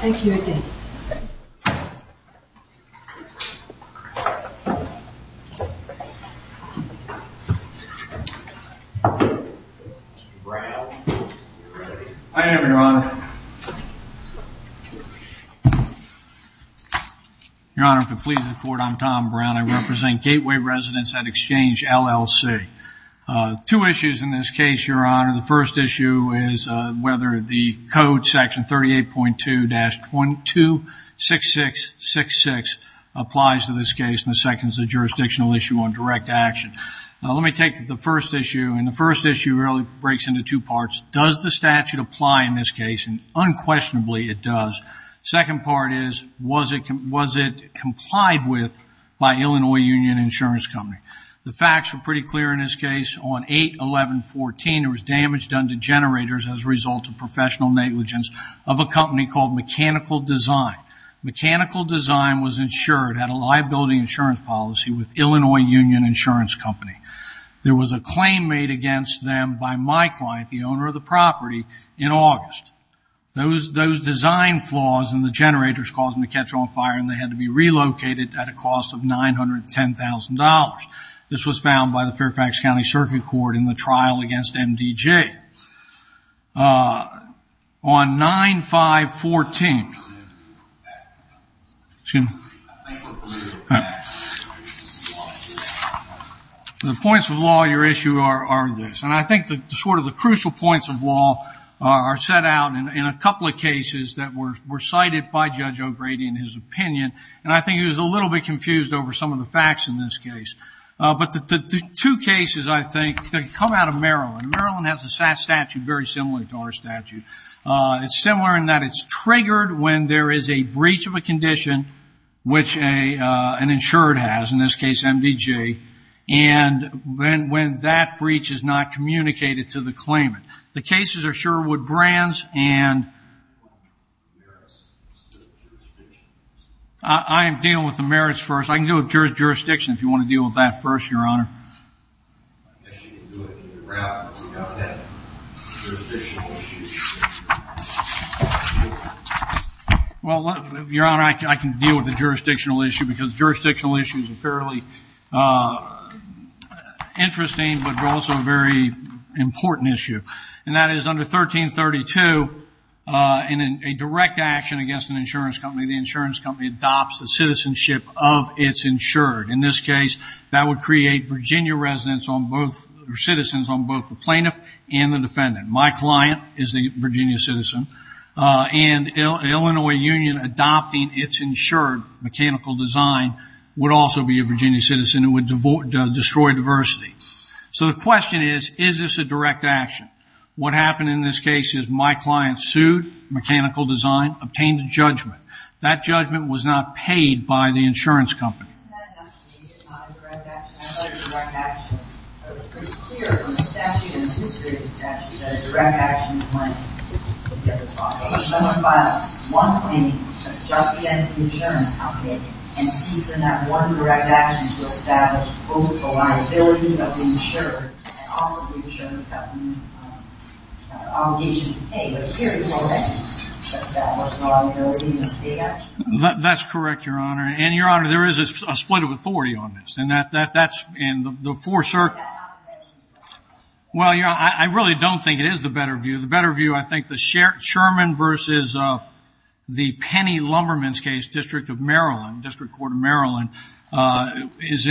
Thank you, again. Mr. Brown, you're ready. I am, Your Honor. Your Honor, if it pleases the Court, I'm Tom Brown. I represent Gateway Residence at Exchange, LLC. Two issues in this case, Your Honor. The first issue is whether the Code Section 38.2-226666 applies to this case. And the second is a jurisdictional issue on direct action. Now, let me take the first issue. And the first issue really breaks into two parts. First, does the statute apply in this case? And unquestionably, it does. Second part is, was it complied with by Illinois Union Insurance Company? The facts were pretty clear in this case. On 8-11-14, there was damage done to generators as a result of professional negligence of a company called Mechanical Design. Mechanical Design was insured, had a liability insurance policy with Illinois Union Insurance Company. There was a claim made against them by my client, the owner of the property, in August. Those design flaws in the generators caused them to catch on fire and they had to be relocated at a cost of $910,000. This was found by the Fairfax County Circuit Court in the trial against MDJ. On 9-5-14, the points of law in your issue are this. And I think sort of the crucial points of law are set out in a couple of cases that were cited by Judge O'Grady in his opinion. And I think he was a little bit confused over some of the facts in this case. But the two cases, I think, come out of Maryland. Maryland has a statute very similar to our statute. It's similar in that it's triggered when there is a breach of a condition, which an insured has, in this case MDJ, and when that breach is not communicated to the claimant. The cases are Sherwood Brands and I am dealing with the merits first. I can deal with jurisdiction if you want to deal with that first, Your Honor. I guess you can do it either route without that jurisdictional issue. Well, Your Honor, I can deal with the jurisdictional issue because jurisdictional issues are fairly interesting, but they're also a very important issue. And that is under 1332, in a direct action against an insurance company, the insurance company adopts the citizenship of its insured. In this case, that would create Virginia citizens on both the plaintiff and the defendant. My client is the Virginia citizen. And Illinois Union adopting its insured mechanical design would also be a Virginia citizen. It would destroy diversity. So the question is, is this a direct action? What happened in this case is my client sued mechanical design, obtained a judgment. That judgment was not paid by the insurance company. That's correct, Your Honor. And, Your Honor, there is a split of authority on this. I really don't think it is the better view. The better view I think the Sherman versus the Penny Lumberman's case, District Court of Maryland, is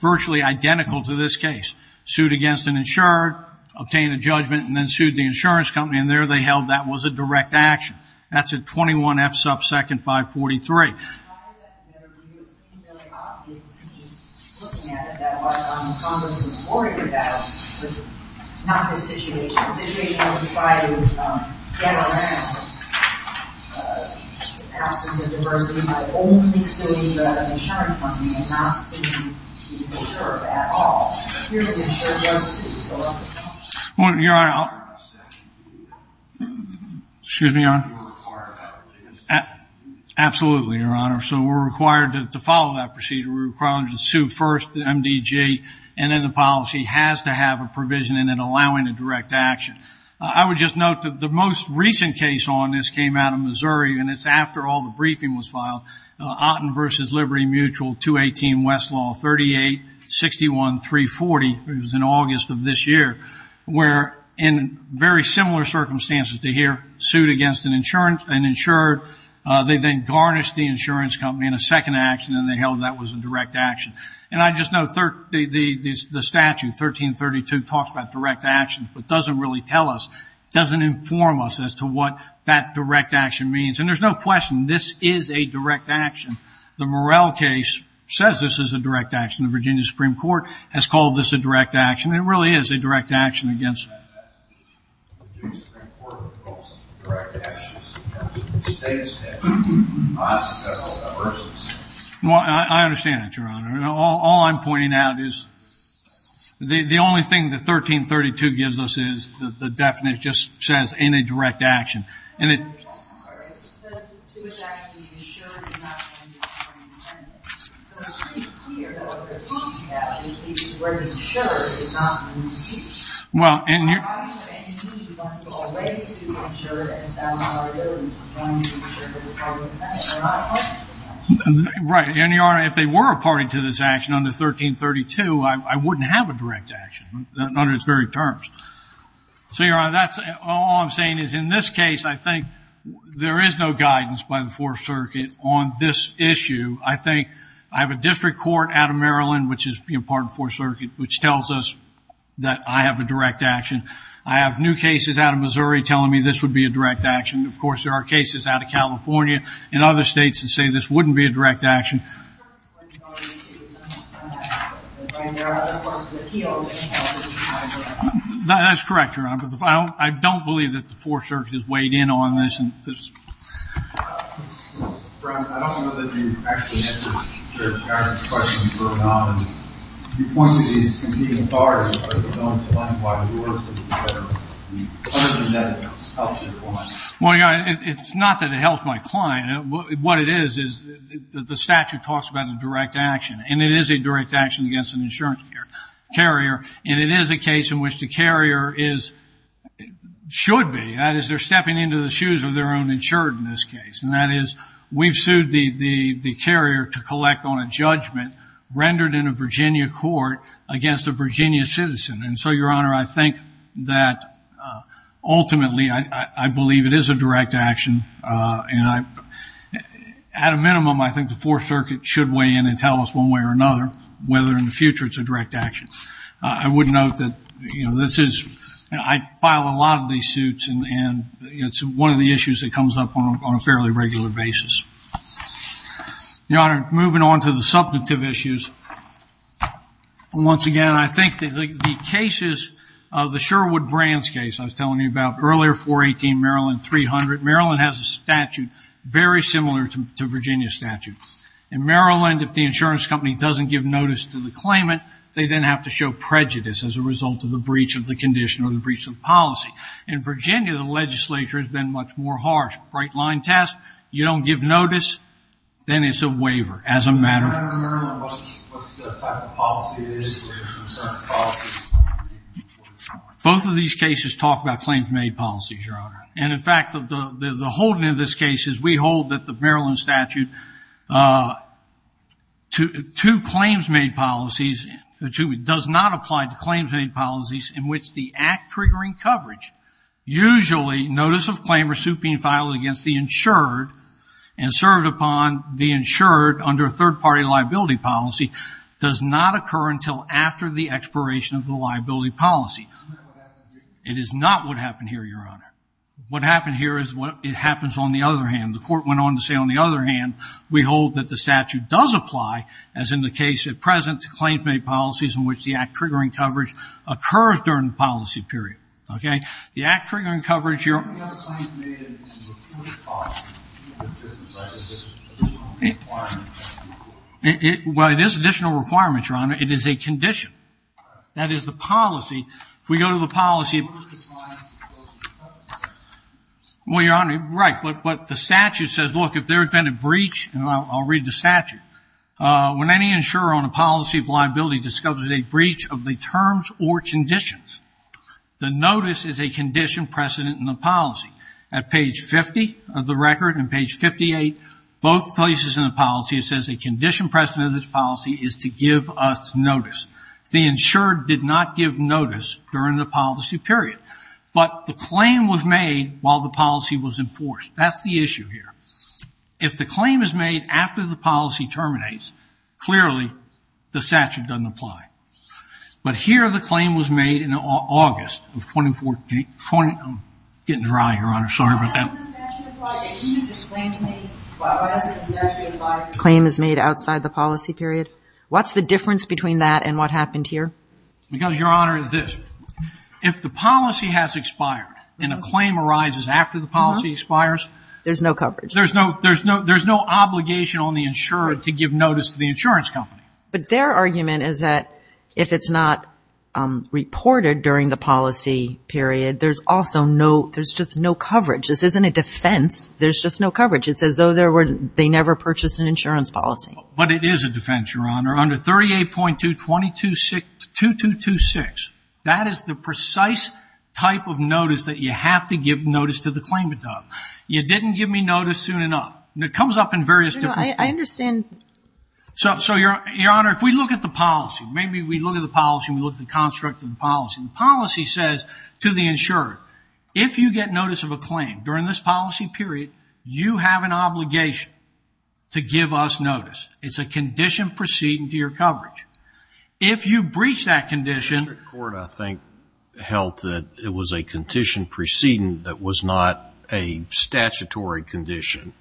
virtually identical to this case. Sued against an insured, obtained a judgment, and then sued the insurance company. And there they held that was a direct action. That's at 21 F sub second 543. It seems really obvious to me, looking at it, that what Congress was worried about was not this situation. The situation where we try to get around the absence of diversity by only suing the insurance company and not suing the insured at all. The insured was sued, so that's a no. Your Honor, I'll... Excuse me, Your Honor. Absolutely, Your Honor. So we're required to follow that procedure. We're required to sue first, MDG, and then the policy has to have a provision in it allowing a direct action. I would just note that the most recent case on this came out of Missouri, and it's after all the briefing was filed. Otten versus Liberty Mutual, 218 Westlaw, 38-61-340. It was in August of this year. In very similar circumstances to here, sued against an insured. They then garnished the insurance company in a second action, and they held that was a direct action. And I just note the statute, 1332, talks about direct action, but doesn't really tell us, doesn't inform us as to what that direct action means. And there's no question, this is a direct action. The Morrell case says this is a direct action. The Virginia Supreme Court has called this a direct action. It really is a direct action. I understand that, Your Honor. All I'm pointing out is the only thing that 1332 gives us is the definition. It just says in a direct action. Right. And, Your Honor, if they were a party to this action under 1332, I wouldn't have a direct action under its very terms. So, Your Honor, all I'm saying is in this case, I think there is no guidance by the Fourth Circuit on this issue. I think I have a district court out of Maryland, which is part of the Fourth Circuit, which tells us that I have a direct action. I have new cases out of Missouri telling me this would be a direct action. Of course, there are cases out of California and other states that say this wouldn't be a direct action. That's correct, Your Honor. I don't believe that the Fourth Circuit has weighed in on this. Well, Your Honor, it's not that it helped my client. What it is is the statute talks about a direct action, and it is a direct action against an insurance carrier, and it is a case in which the carrier should be. That is, they're stepping into the shoes of their own insured in this case. And that is we've sued the carrier to collect on a judgment rendered in a Virginia court against a Virginia citizen. And so, Your Honor, I think that ultimately I believe it is a direct action, and at a minimum, I think the Fourth Circuit should weigh in and tell us one way or another whether in the future it's a direct action. I would note that I file a lot of these suits, and it's one of the issues that comes up on a fairly regular basis. Your Honor, moving on to the subjective issues, once again, I think the cases of the Sherwood Brands case I was telling you about earlier, 418 Maryland 300, Maryland has a statute very similar to Virginia's statute. In Maryland, if the insurance company doesn't give notice to the claimant, they then have to show prejudice as a result of the breach of the condition or the breach of the policy. In Virginia, the legislature has been much more harsh. Bright-line test, you don't give notice, then it's a waiver as a matter of fact. I don't remember what the type of policy it is. And, in fact, the holding of this case is we hold that the Maryland statute to claims-made policies, does not apply to claims-made policies in which the act triggering coverage, usually notice of claim or suit being filed against the insured and served upon the insured under a third-party liability policy, does not occur until after the expiration of the liability policy. It is not what happened here, Your Honor. What happened here is what happens on the other hand. The court went on to say, on the other hand, we hold that the statute does apply, as in the case at present, to claims-made policies in which the act triggering coverage occurs during the policy period. Okay? The act triggering coverage, Your Honor. Well, it is additional requirements, Your Honor. It is a condition. That is the policy. If we go to the policy. Well, Your Honor, right. But the statute says, look, if there had been a breach, and I'll read the statute. When any insurer on a policy of liability discovers a breach of the terms or conditions, the notice is a condition precedent in the policy. At page 50 of the record and page 58, both places in the policy, it says a condition precedent of this policy is to give us notice. The insured did not give notice during the policy period. But the claim was made while the policy was enforced. That's the issue here. If the claim is made after the policy terminates, clearly the statute doesn't apply. But here the claim was made in August of 2014. I'm getting dry, Your Honor. Sorry about that. Can you just explain to me why the statute doesn't apply? The claim is made outside the policy period. What's the difference between that and what happened here? Because, Your Honor, it's this. If the policy has expired and a claim arises after the policy expires. There's no coverage. There's no obligation on the insured to give notice to the insurance company. But their argument is that if it's not reported during the policy period, there's just no coverage. This isn't a defense. There's just no coverage. It's as though they never purchased an insurance policy. But it is a defense, Your Honor, under 38.2226. That is the precise type of notice that you have to give notice to the claimant of. You didn't give me notice soon enough. It comes up in various different forms. I understand. So, Your Honor, if we look at the policy, maybe we look at the policy and we look at the construct of the policy. Policy says to the insurer, if you get notice of a claim during this policy period, you have an obligation to give us notice. It's a condition preceding to your coverage. If you breach that condition. The district court, I think, held that it was a condition preceding that was not a statutory condition,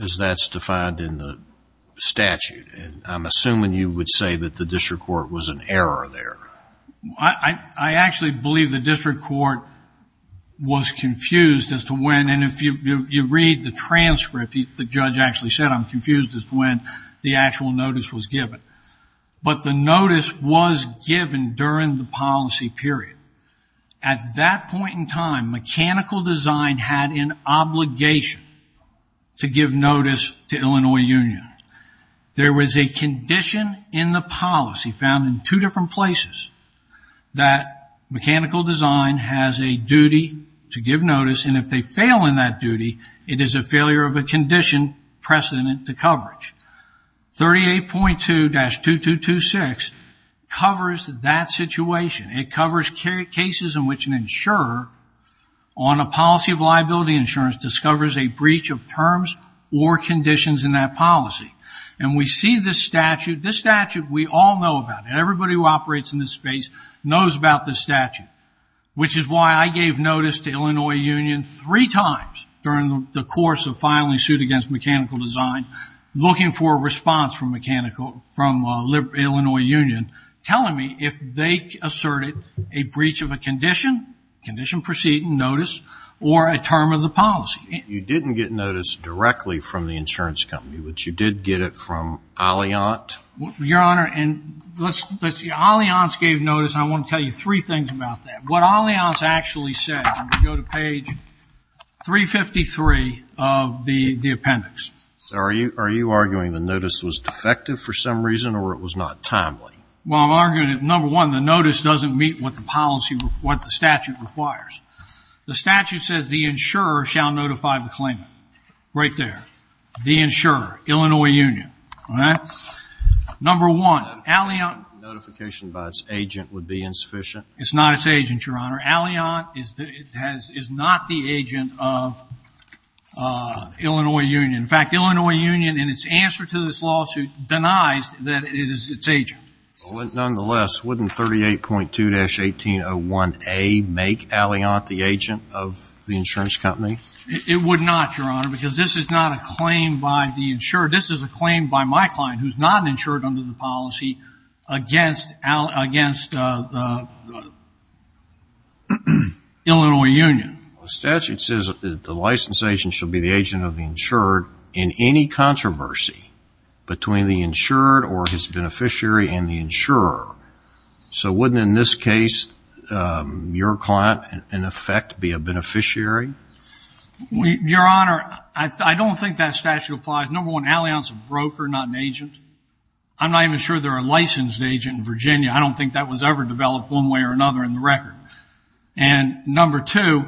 as that's defined in the statute. I'm assuming you would say that the district court was in error there. I actually believe the district court was confused as to when, and if you read the transcript, the judge actually said, I'm confused as to when the actual notice was given. But the notice was given during the policy period. At that point in time, mechanical design had an obligation to give notice to Illinois Union. There was a condition in the policy found in two different places that mechanical design has a duty to give notice, and if they fail in that duty, it is a failure of a condition precedent to coverage. 38.2-2226 covers that situation. It covers cases in which an insurer on a policy of liability insurance discovers a breach of terms or conditions in that policy. We see this statute. This statute, we all know about it. Everybody who operates in this space knows about this statute, which is why I gave notice to Illinois Union three times during the course of filing suit against mechanical design, looking for a response from Illinois Union, telling me if they asserted a breach of a condition, condition precedent, notice, or a term of the policy. You didn't get notice directly from the insurance company, but you did get it from Alliant? Your Honor, Alliant gave notice. I want to tell you three things about that. What Alliant actually said, go to page 353 of the appendix. Are you arguing the notice was defective for some reason or it was not timely? Well, I'm arguing that, number one, the notice doesn't meet what the statute requires. The statute says the insurer shall notify the claimant. Right there. The insurer, Illinois Union. All right? Number one, Alliant. Notification by its agent would be insufficient. It's not its agent, Your Honor. Alliant is not the agent of Illinois Union. In fact, Illinois Union in its answer to this lawsuit denies that it is its agent. Nonetheless, wouldn't 38.2-1801A make Alliant the agent of the insurance company? It would not, Your Honor, because this is not a claim by the insured. This is a claim by my client who's not insured under the policy against Illinois Union. The statute says that the license agent should be the agent of the insured. in any controversy between the insured or his beneficiary and the insurer. So wouldn't, in this case, your client, in effect, be a beneficiary? Your Honor, I don't think that statute applies. Number one, Alliant's a broker, not an agent. I'm not even sure they're a licensed agent in Virginia. I don't think that was ever developed one way or another in the record. And number two,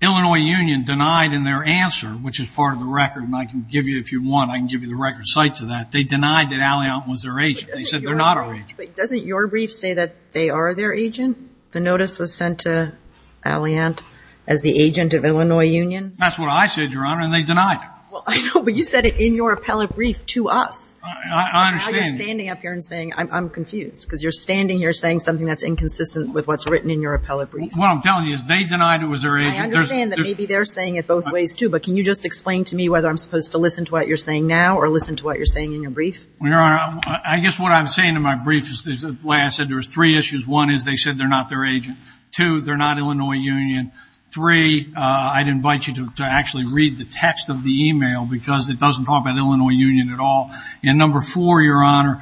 Illinois Union denied in their answer, which is part of the record, and I can give you, if you want, I can give you the record cite to that, they denied that Alliant was their agent. They said they're not our agent. But doesn't your brief say that they are their agent? The notice was sent to Alliant as the agent of Illinois Union? That's what I said, Your Honor, and they denied it. Well, I know, but you said it in your appellate brief to us. I understand. And now you're standing up here and saying, I'm confused, because you're standing here saying something that's inconsistent with what's written in your appellate brief. What I'm telling you is they denied it was their agent. I understand that maybe they're saying it both ways too, but can you just explain to me whether I'm supposed to listen to what you're saying now or listen to what you're saying in your brief? Your Honor, I guess what I'm saying in my brief is the way I said there were three issues. One is they said they're not their agent. Two, they're not Illinois Union. Three, I'd invite you to actually read the text of the e-mail because it doesn't talk about Illinois Union at all. And number four, Your Honor,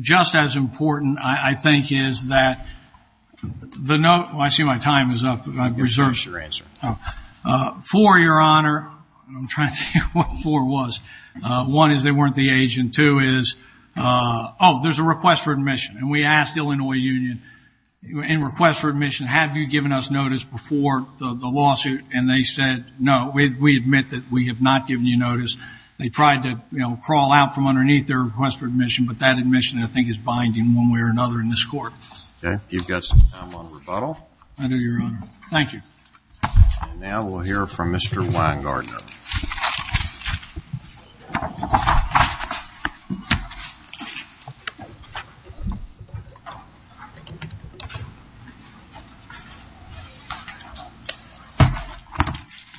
just as important, I think, is that the note – I see my time is up. I've reserved. Here's your answer. Four, Your Honor – I'm trying to think what four was. One is they weren't the agent. Two is – oh, there's a request for admission. And we asked Illinois Union in request for admission, have you given us notice before the lawsuit? And they said no. We admit that we have not given you notice. They tried to crawl out from underneath their request for admission, but that admission, I think, is binding one way or another in this court. Okay. You've got some time on rebuttal. I do, Your Honor. Thank you. And now we'll hear from Mr. Weingartner.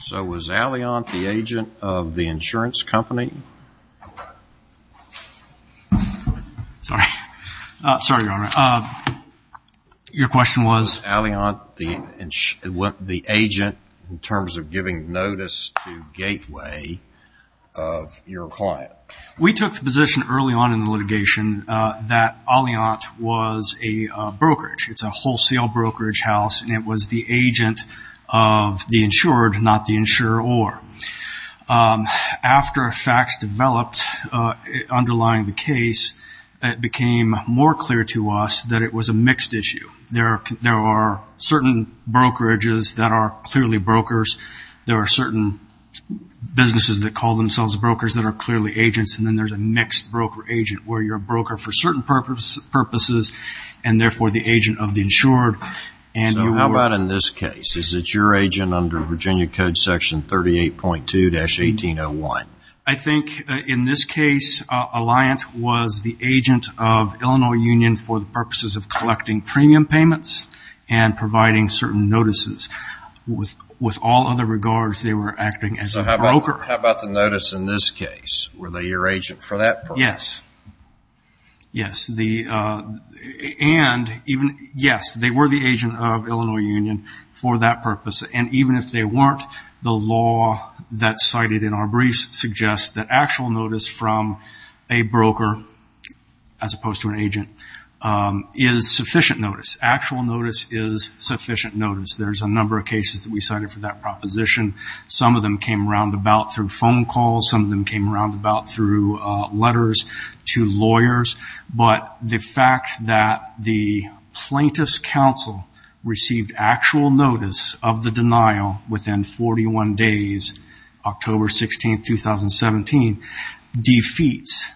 So was Alliant the agent of the insurance company? Sorry. Sorry, Your Honor. Your question was? Was Alliant the agent in terms of giving notice to Gateway of your client? We took the position early on in the litigation that Alliant was a brokerage. It's a wholesale brokerage house, and it was the agent of the insured, not the insurer or. After facts developed underlying the case, it became more clear to us that it was a mixed issue. There are certain brokerages that are clearly brokers. There are certain businesses that call themselves brokers that are clearly agents, and then there's a mixed broker-agent, where you're a broker for certain purposes and, therefore, the agent of the insured. So how about in this case? Is it your agent under Virginia Code Section 38.2-1801? I think in this case, Alliant was the agent of Illinois Union for the purposes of collecting premium payments and providing certain notices. With all other regards, they were acting as a broker. So how about the notice in this case? Were they your agent for that purpose? Yes. Yes, they were the agent of Illinois Union for that purpose, and even if they weren't, the law that's cited in our briefs suggests that actual notice from a broker, as opposed to an agent, is sufficient notice. Actual notice is sufficient notice. There's a number of cases that we cited for that proposition. Some of them came round about through phone calls. Some of them came round about through letters to lawyers. But the fact that the plaintiff's counsel received actual notice of the denial within 41 days, October 16, 2017, defeats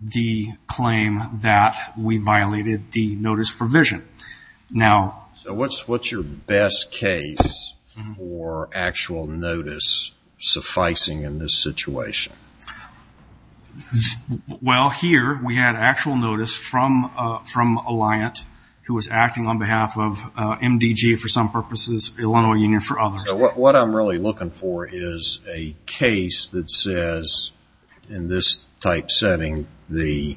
the claim that we violated the notice provision. So what's your best case for actual notice sufficing in this situation? Well, here we had actual notice from Alliant, who was acting on behalf of MDG for some purposes, Illinois Union for others. What I'm really looking for is a case that says, in this type setting, the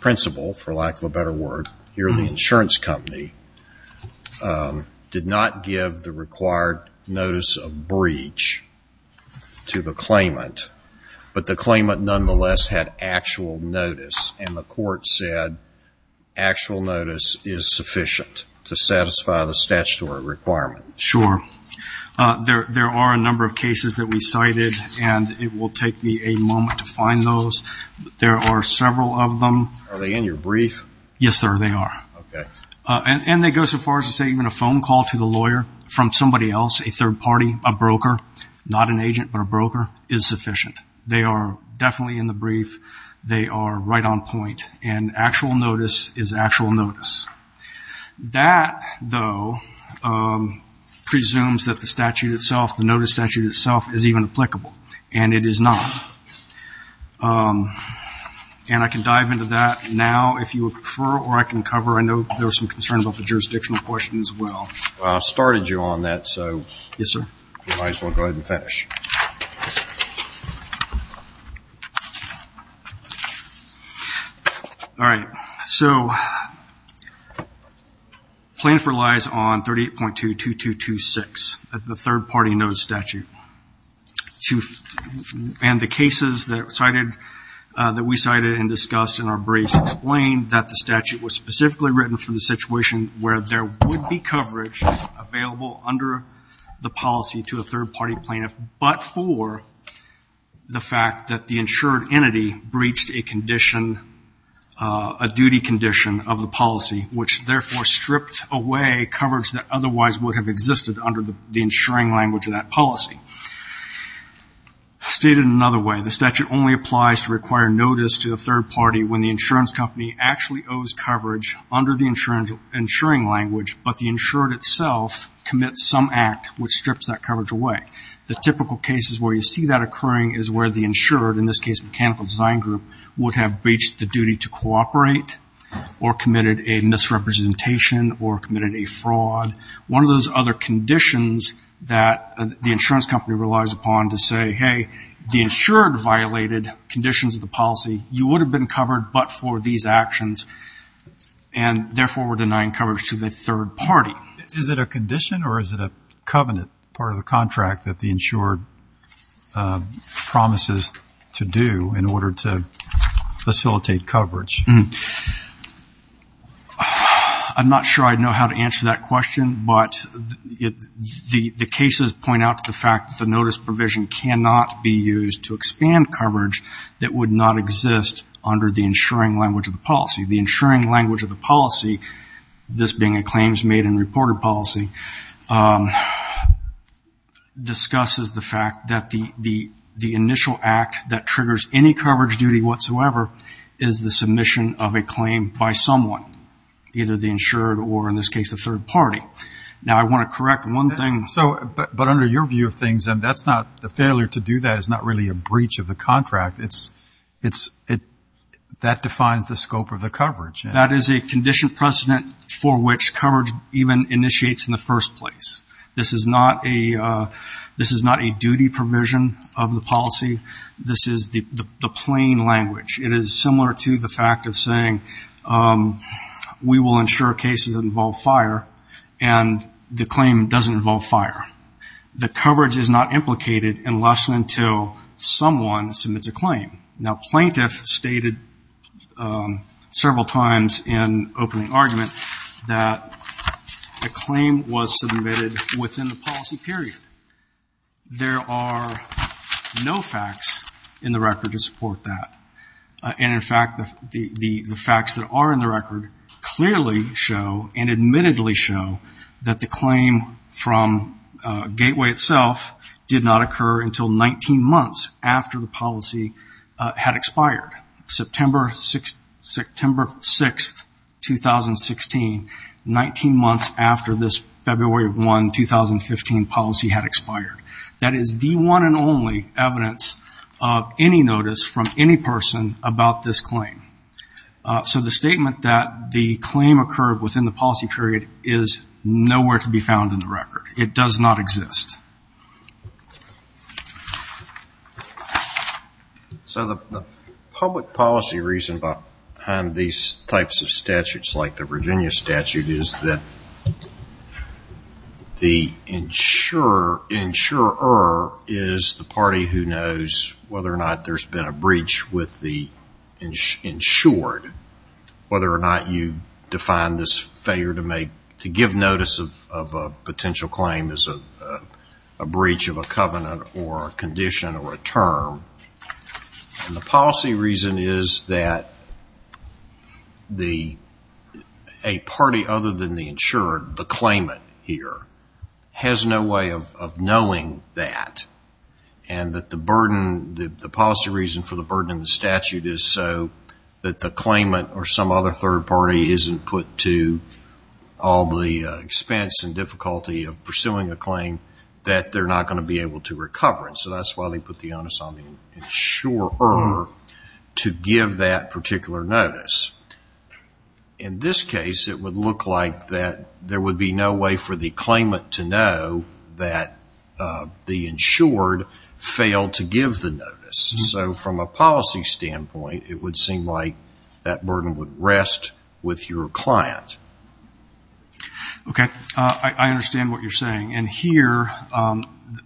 principal, for lack of a better word, here at the insurance company, did not give the required notice of breach to the claimant, but the claimant nonetheless had actual notice, and the court said actual notice is sufficient to satisfy the statutory requirement. Sure. There are a number of cases that we cited, and it will take me a moment to find those. There are several of them. Are they in your brief? Yes, sir, they are. Okay. And they go so far as to say even a phone call to the lawyer from somebody else, a third party, a broker, not an agent but a broker, is sufficient. They are definitely in the brief. They are right on point. And actual notice is actual notice. That, though, presumes that the statute itself, the notice statute itself, is even applicable. And it is not. And I can dive into that now if you prefer, or I can cover. I know there was some concern about the jurisdictional question as well. I started you on that, so you might as well go ahead and finish. All right. So plaintiff relies on 38.22226, the third party notice statute. And the cases that we cited and discussed in our briefs explained that the statute was specifically written for the situation where there would be coverage available under the policy to a third party plaintiff, but for the fact that the insured entity breached a condition, a duty condition of the policy, which therefore stripped away coverage that otherwise would have existed under the insuring language of that policy. Stated another way, the statute only applies to require notice to a third party when the insurance company actually owes coverage under the insuring language, but the insured itself commits some act which strips that coverage away. The typical cases where you see that occurring is where the insured, in this case mechanical design group, would have breached the duty to cooperate or committed a misrepresentation or committed a fraud. One of those other conditions that the insurance company relies upon to say, hey, if the insured violated conditions of the policy, you would have been covered but for these actions and therefore were denying coverage to the third party. Is it a condition or is it a covenant part of the contract that the insured promises to do in order to facilitate coverage? I'm not sure I know how to answer that question, but the cases point out the fact that the notice provision cannot be used to expand coverage that would not exist under the insuring language of the policy. The insuring language of the policy, this being a claims made and reported policy, discusses the fact that the initial act that triggers any coverage duty whatsoever is the submission of a claim by someone, either the insured or, in this case, the third party. Now, I want to correct one thing. But under your view of things, the failure to do that is not really a breach of the contract. That defines the scope of the coverage. That is a condition precedent for which coverage even initiates in the first place. This is not a duty provision of the policy. This is the plain language. It is similar to the fact of saying we will insure cases that involve fire and the claim doesn't involve fire. The coverage is not implicated unless and until someone submits a claim. Now, plaintiffs stated several times in opening argument that a claim was submitted within the policy period. There are no facts in the record to support that. And, in fact, the facts that are in the record clearly show and admittedly show that the claim from Gateway itself did not occur until 19 months after the policy had expired. September 6, 2016, 19 months after this February 1, 2015 policy had expired. That is the one and only evidence of any notice from any person about this claim. So the statement that the claim occurred within the policy period is nowhere to be found in the record. It does not exist. So the public policy reason behind these types of statutes, like the Virginia statute, is that the insurer is the party who knows whether or not there has been a breach with the insured. Whether or not you define this failure to give notice of a potential claim as a breach of a covenant or a condition or a term. And the policy reason is that a party other than the insured, the claimant here, has no way of knowing that. And that the policy reason for the burden in the statute is so that the claimant or some other third party isn't put to all the expense and difficulty of pursuing a claim that they're not going to be able to recover. So that's why they put the onus on the insurer to give that particular notice. In this case, it would look like that there would be no way for the claimant to know that the insured failed to give the notice. So from a policy standpoint, it would seem like that burden would rest with your client. Okay, I understand what you're saying. And here,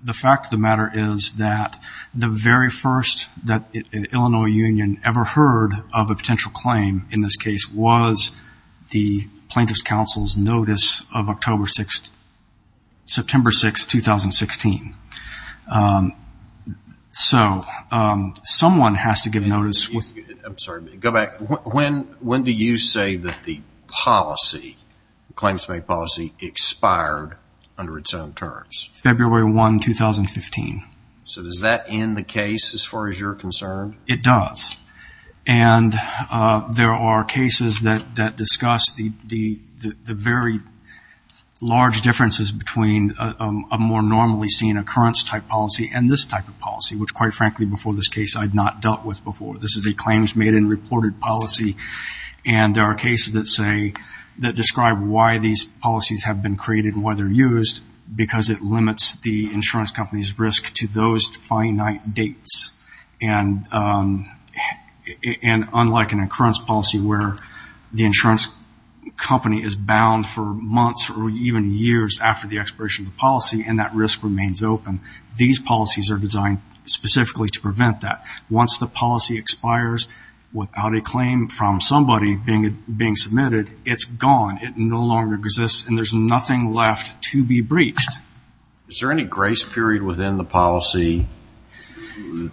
the fact of the matter is that the very first that an Illinois union ever heard of a potential claim, in this case, was the plaintiff's counsel's notice of September 6, 2016. So someone has to give notice. I'm sorry. Go back. When do you say that the policy, the claims to make policy, expired under its own terms? February 1, 2015. So does that end the case as far as you're concerned? It does. And there are cases that discuss the very large differences between a more normally seen occurrence type policy and this type of policy, which, quite frankly, before this case, I had not dealt with before. This is a claims made and reported policy. And there are cases that describe why these policies have been created and why they're used, because it limits the insurance company's risk to those finite dates and unlike an occurrence policy where the insurance company is bound for months or even years after the expiration of the policy and that risk remains open, these policies are designed specifically to prevent that. Once the policy expires without a claim from somebody being submitted, it's gone. It no longer exists, and there's nothing left to be breached. Is there any grace period within the policy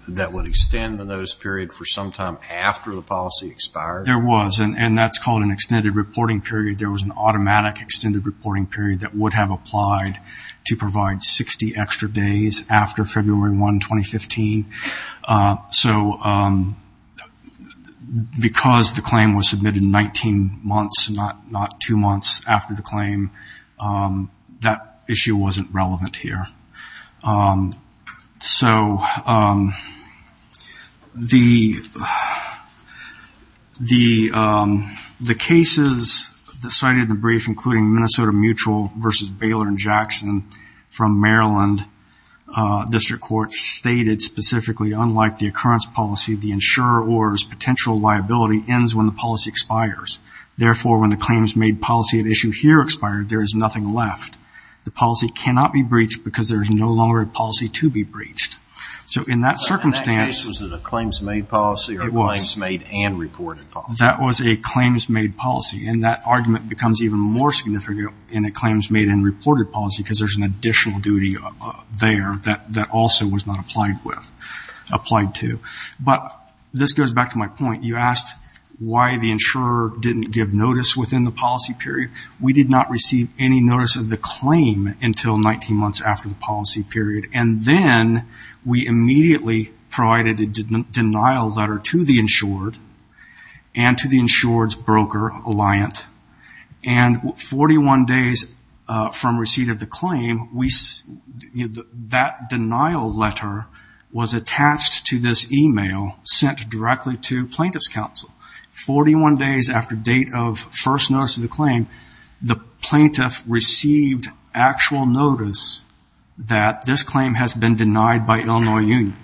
that would extend the notice period for some time after the policy expired? There was, and that's called an extended reporting period. There was an automatic extended reporting period that would have applied to provide 60 extra days after February 1, 2015. So because the claim was submitted 19 months, not two months after the claim, that issue wasn't relevant here. So the cases cited in the brief, including Minnesota Mutual versus Baylor & Jackson from Maryland District Court, stated specifically, unlike the occurrence policy, the insurer or his potential liability ends when the policy expires. Therefore, when the claims made policy at issue here expired, there is nothing left. The policy cannot be breached because there is no longer a policy to be breached. So in that circumstance — Was it a claims made policy or a claims made and reported policy? That was a claims made policy, and that argument becomes even more significant in a claims made and reported policy because there's an additional duty there that also was not applied to. But this goes back to my point. You asked why the insurer didn't give notice within the policy period. We did not receive any notice of the claim until 19 months after the policy period. And then we immediately provided a denial letter to the insured and to the insured's broker, Alliant, and 41 days from receipt of the claim, that denial letter was attached to this e-mail sent directly to plaintiff's counsel. Forty-one days after date of first notice of the claim, the plaintiff received actual notice that this claim has been denied by Illinois Union.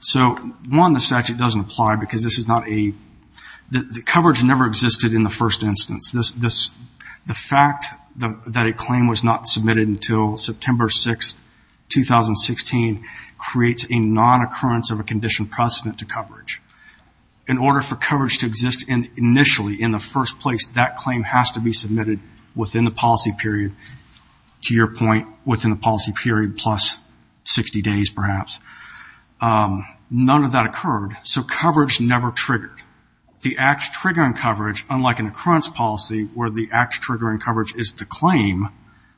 So, one, the statute doesn't apply because this is not a — the coverage never existed in the first instance. The fact that a claim was not submitted until September 6, 2016, creates a non-occurrence of a condition precedent to coverage. In order for coverage to exist initially, in the first place, that claim has to be submitted within the policy period, to your point, within the policy period plus 60 days, perhaps. None of that occurred, so coverage never triggered. The act-triggering coverage, unlike an occurrence policy, where the act-triggering coverage is the claim,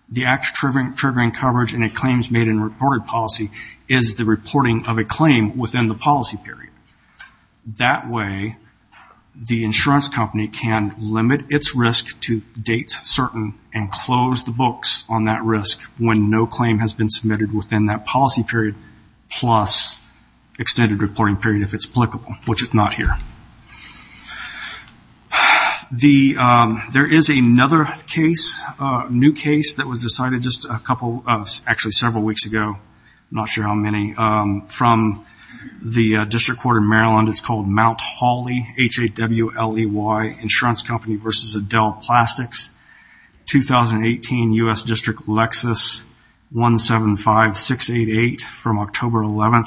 the act-triggering coverage in a claims-made-and-reported policy is the reporting of a claim within the policy period. That way, the insurance company can limit its risk to dates certain and close the books on that risk when no claim has been submitted within that policy period, plus extended reporting period, if it's applicable, which it's not here. There is another case, a new case, that was decided just a couple — actually, several weeks ago, I'm not sure how many, from the District Court of Maryland. It's called Mt. Hawley, H-A-W-L-E-Y, Insurance Company v. Adele Plastics, 2018, U.S. District Lexus, 175-688, from October 11,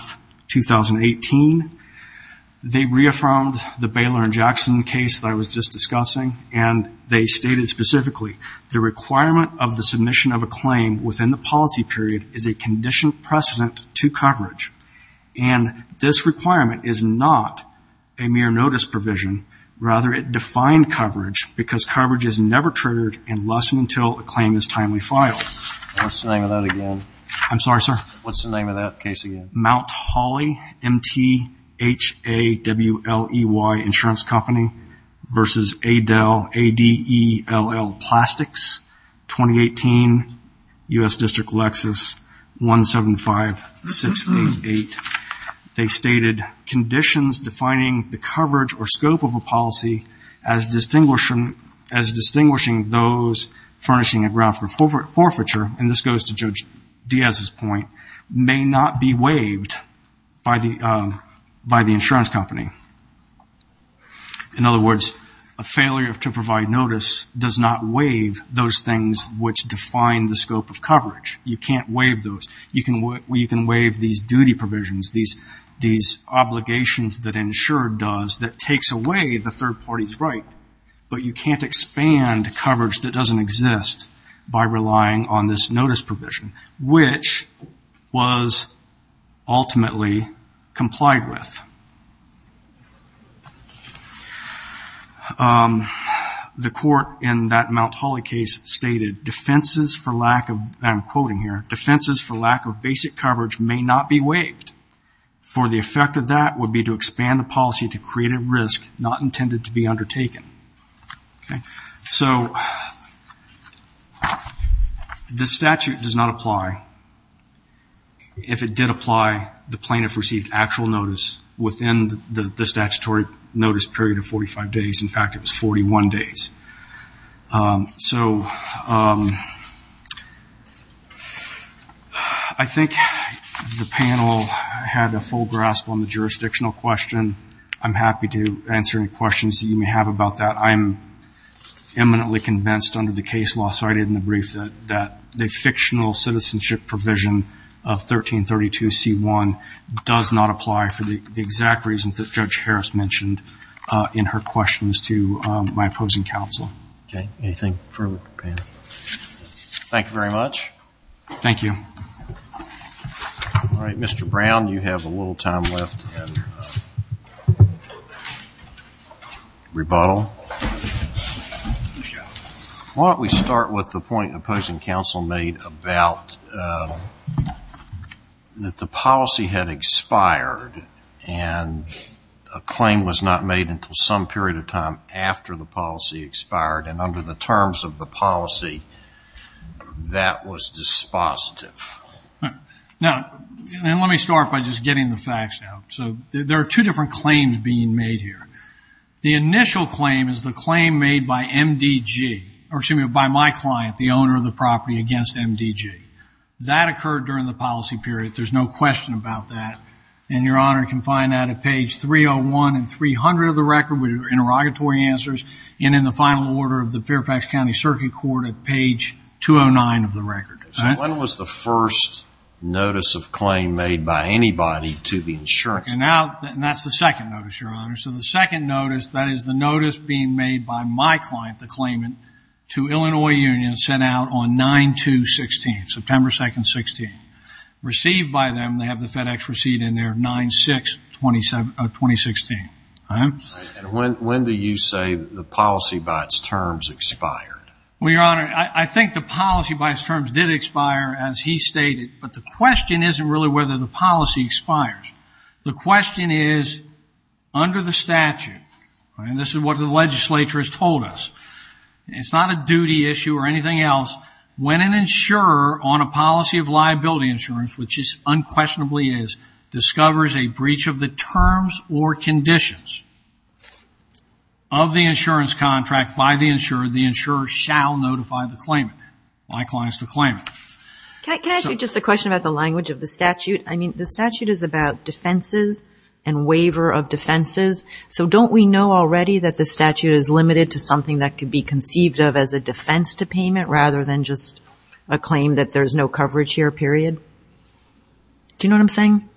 2018. They reaffirmed the Baylor and Jackson case that I was just discussing, and they stated specifically, the requirement of the submission of a claim within the policy period is a condition precedent to coverage. And this requirement is not a mere notice provision. Rather, it defined coverage because coverage is never triggered unless and until a claim is timely filed. What's the name of that again? I'm sorry, sir? What's the name of that case again? Mt. Hawley, M-T-H-A-W-L-E-Y, Insurance Company v. Adele Plastics, 2018, U.S. District Lexus, 175-688. They stated conditions defining the coverage or scope of a policy as distinguishing those furnishing a ground for forfeiture, and this goes to Judge Diaz's point, may not be waived by the insurance company. In other words, a failure to provide notice does not waive those things which define the scope of coverage. You can't waive those. You can waive these duty provisions, these obligations that insure does that takes away the third party's right, but you can't expand coverage that doesn't exist by relying on this notice provision, which was ultimately complied with. The court in that Mt. Hawley case stated, and I'm quoting here, defenses for lack of basic coverage may not be waived, for the effect of that would be to expand the policy to create a risk not intended to be undertaken. So this statute does not apply. If it did apply, the plaintiff received actual notice within the statutory notice period of 45 days. In fact, it was 41 days. So I think the panel had a full grasp on the jurisdictional question. I'm happy to answer any questions that you may have about that. I'm eminently convinced under the case law cited in the brief that the fictional citizenship provision of 1332C1 does not apply for the exact reasons that Judge Harris mentioned in her questions to my opposing counsel. Anything further? Thank you very much. Thank you. Mr. Brown, you have a little time left in rebuttal. Why don't we start with the point opposing counsel made about that the policy had expired and a claim was not made until some period of time after the policy expired, and under the terms of the policy that was dispositive. Now, let me start by just getting the facts out. So there are two different claims being made here. The initial claim is the claim made by MDG, or excuse me, by my client, the owner of the property against MDG. That occurred during the policy period. There's no question about that. And Your Honor can find that at page 301 and 300 of the record with interrogatory answers and in the final order of the Fairfax County Circuit Court at page 209 of the record. When was the first notice of claim made by anybody to the insurance company? And that's the second notice, Your Honor. So the second notice, that is the notice being made by my client, the claimant, to Illinois Union sent out on 9-2-16, September 2, 16. Received by them, they have the FedEx receipt in there, 9-6-2016. And when do you say the policy by its terms expired? Well, Your Honor, I think the policy by its terms did expire, as he stated, but the question isn't really whether the policy expires. The question is, under the statute, and this is what the legislature has told us, it's not a duty issue or anything else. When an insurer on a policy of liability insurance, which it unquestionably is, discovers a breach of the terms or conditions of the insurance contract by the insurer, the insurer shall notify the claimant, my client is the claimant. Can I ask you just a question about the language of the statute? I mean, the statute is about defenses and waiver of defenses. So don't we know already that the statute is limited to something that could be conceived of as a defense to payment rather than just a claim that there's no coverage here, period? Do you know what I'm saying?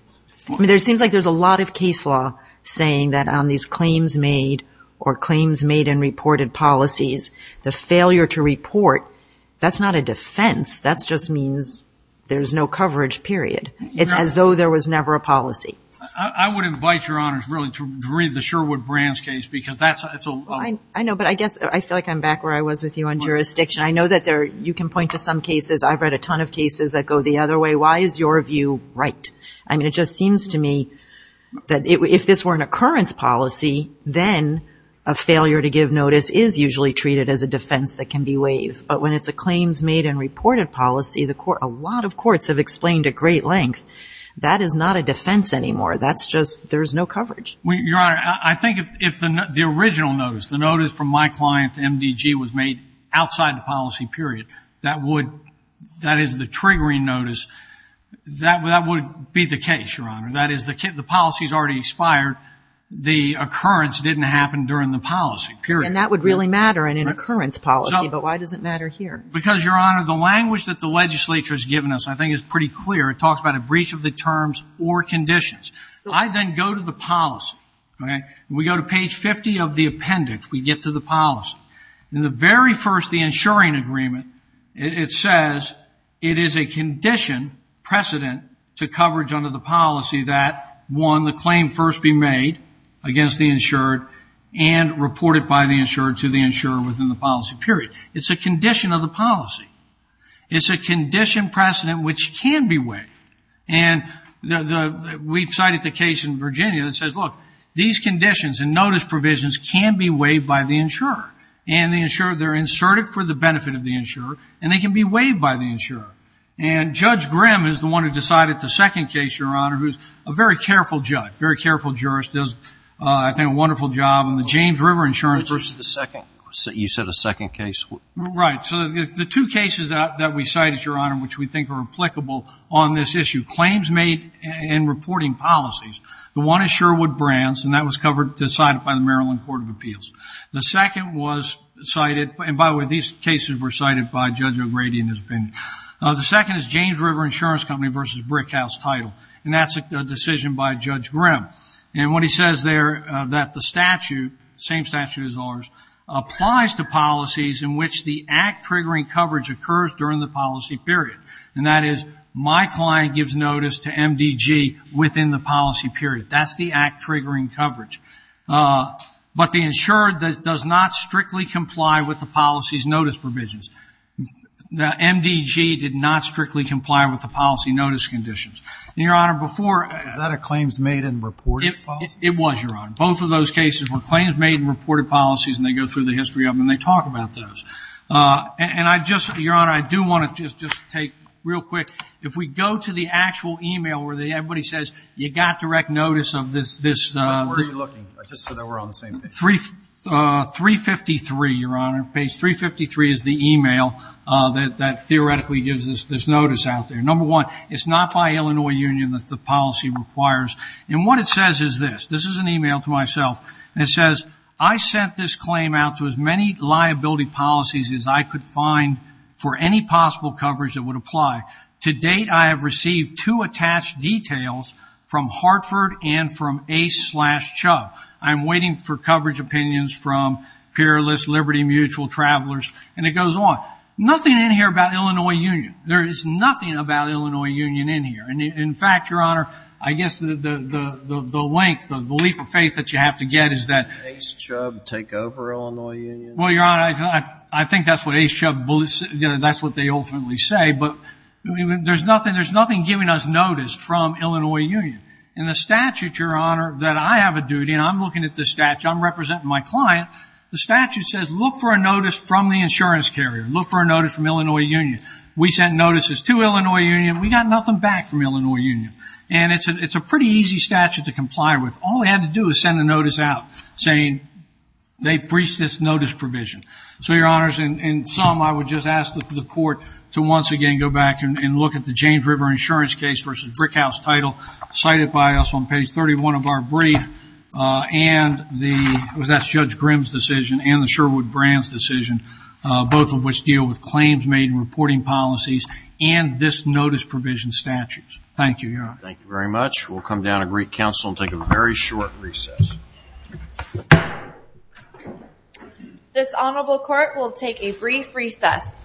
I mean, there seems like there's a lot of case law saying that on these claims made or claims made in reported policies, the failure to report, that's not a defense. That just means there's no coverage, period. It's as though there was never a policy. I would invite Your Honors really to read the Sherwood-Brands case because that's a... I know, but I guess I feel like I'm back where I was with you on jurisdiction. I know that you can point to some cases. I've read a ton of cases that go the other way. Why is your view right? I mean, it just seems to me that if this were an occurrence policy, then a failure to give notice is usually treated as a defense that can be waived. But when it's a claims made and reported policy, a lot of courts have explained at great length, that is not a defense anymore. That's just there's no coverage. Your Honor, I think if the original notice, the notice from my client, MDG, was made outside the policy, period, that is the triggering notice, that would be the case, Your Honor. That is the policy's already expired. The occurrence didn't happen during the policy, period. And that would really matter in an occurrence policy, but why does it matter here? Because, Your Honor, the language that the legislature has given us, I think, is pretty clear. It talks about a breach of the terms or conditions. I then go to the policy. When we go to page 50 of the appendix, we get to the policy. In the very first, the insuring agreement, it says it is a condition, precedent, to coverage under the policy that, one, the claim first be made against the insured and reported by the insured to the insurer within the policy, period. It's a condition of the policy. It's a condition precedent which can be waived. And we've cited the case in Virginia that says, look, these conditions and notice provisions can be waived by the insurer. And the insurer, they're inserted for the benefit of the insurer, and they can be waived by the insurer. And Judge Grimm is the one who decided the second case, Your Honor, who's a very careful judge, very careful jurist, does, I think, a wonderful job on the James River insurance versus the second. You said a second case? Right. So the two cases that we cited, Your Honor, which we think are applicable on this issue, claims made and reporting policies, the one is Sherwood Brands, and that was decided by the Maryland Court of Appeals. The second was cited, and by the way, these cases were cited by Judge O'Grady in his opinion. The second is James River Insurance Company versus Brickhouse Title, and that's a decision by Judge Grimm. And what he says there, that the statute, same statute as ours, applies to policies in which the act-triggering coverage occurs during the policy period, and that is my client gives notice to MDG within the policy period. That's the act-triggering coverage. But the insurer does not strictly comply with the policy's notice provisions. The MDG did not strictly comply with the policy notice conditions. And, Your Honor, before ---- Is that a claims made and reported policy? It was, Your Honor. Both of those cases were claims made and reported policies, and they go through the history of them, and they talk about those. And I just, Your Honor, I do want to just take real quick, if we go to the actual e-mail where everybody says you got direct notice of this. Where are you looking? I just said that we're on the same page. 353, Your Honor, page 353 is the e-mail that theoretically gives us this notice out there. Number one, it's not by Illinois Union that the policy requires. And what it says is this. This is an e-mail to myself, and it says, I sent this claim out to as many liability policies as I could find for any possible coverage that would apply. To date, I have received two attached details from Hartford and from Ace slash Chubb. I am waiting for coverage opinions from Peerless, Liberty Mutual, Travelers, and it goes on. Nothing in here about Illinois Union. There is nothing about Illinois Union in here. And, in fact, Your Honor, I guess the length, the leap of faith that you have to get is that. Did Ace Chubb take over Illinois Union? Well, Your Honor, I think that's what Ace Chubb, that's what they ultimately say. But there's nothing giving us notice from Illinois Union. In the statute, Your Honor, that I have a duty, and I'm looking at this statute, I'm representing my client. The statute says look for a notice from the insurance carrier. Look for a notice from Illinois Union. We sent notices to Illinois Union. We got nothing back from Illinois Union. And it's a pretty easy statute to comply with. All they had to do was send a notice out saying they breached this notice provision. So, Your Honors, in sum, I would just ask the court to once again go back and look at the James River insurance case versus Brickhouse title cited by us on page 31 of our brief, and that's Judge Grimm's decision and the Sherwood-Brands decision, both of which deal with claims made in reporting policies and this notice provision statute. Thank you, Your Honor. Thank you very much. We'll come down to Greek Council and take a very short recess. This honorable court will take a brief recess.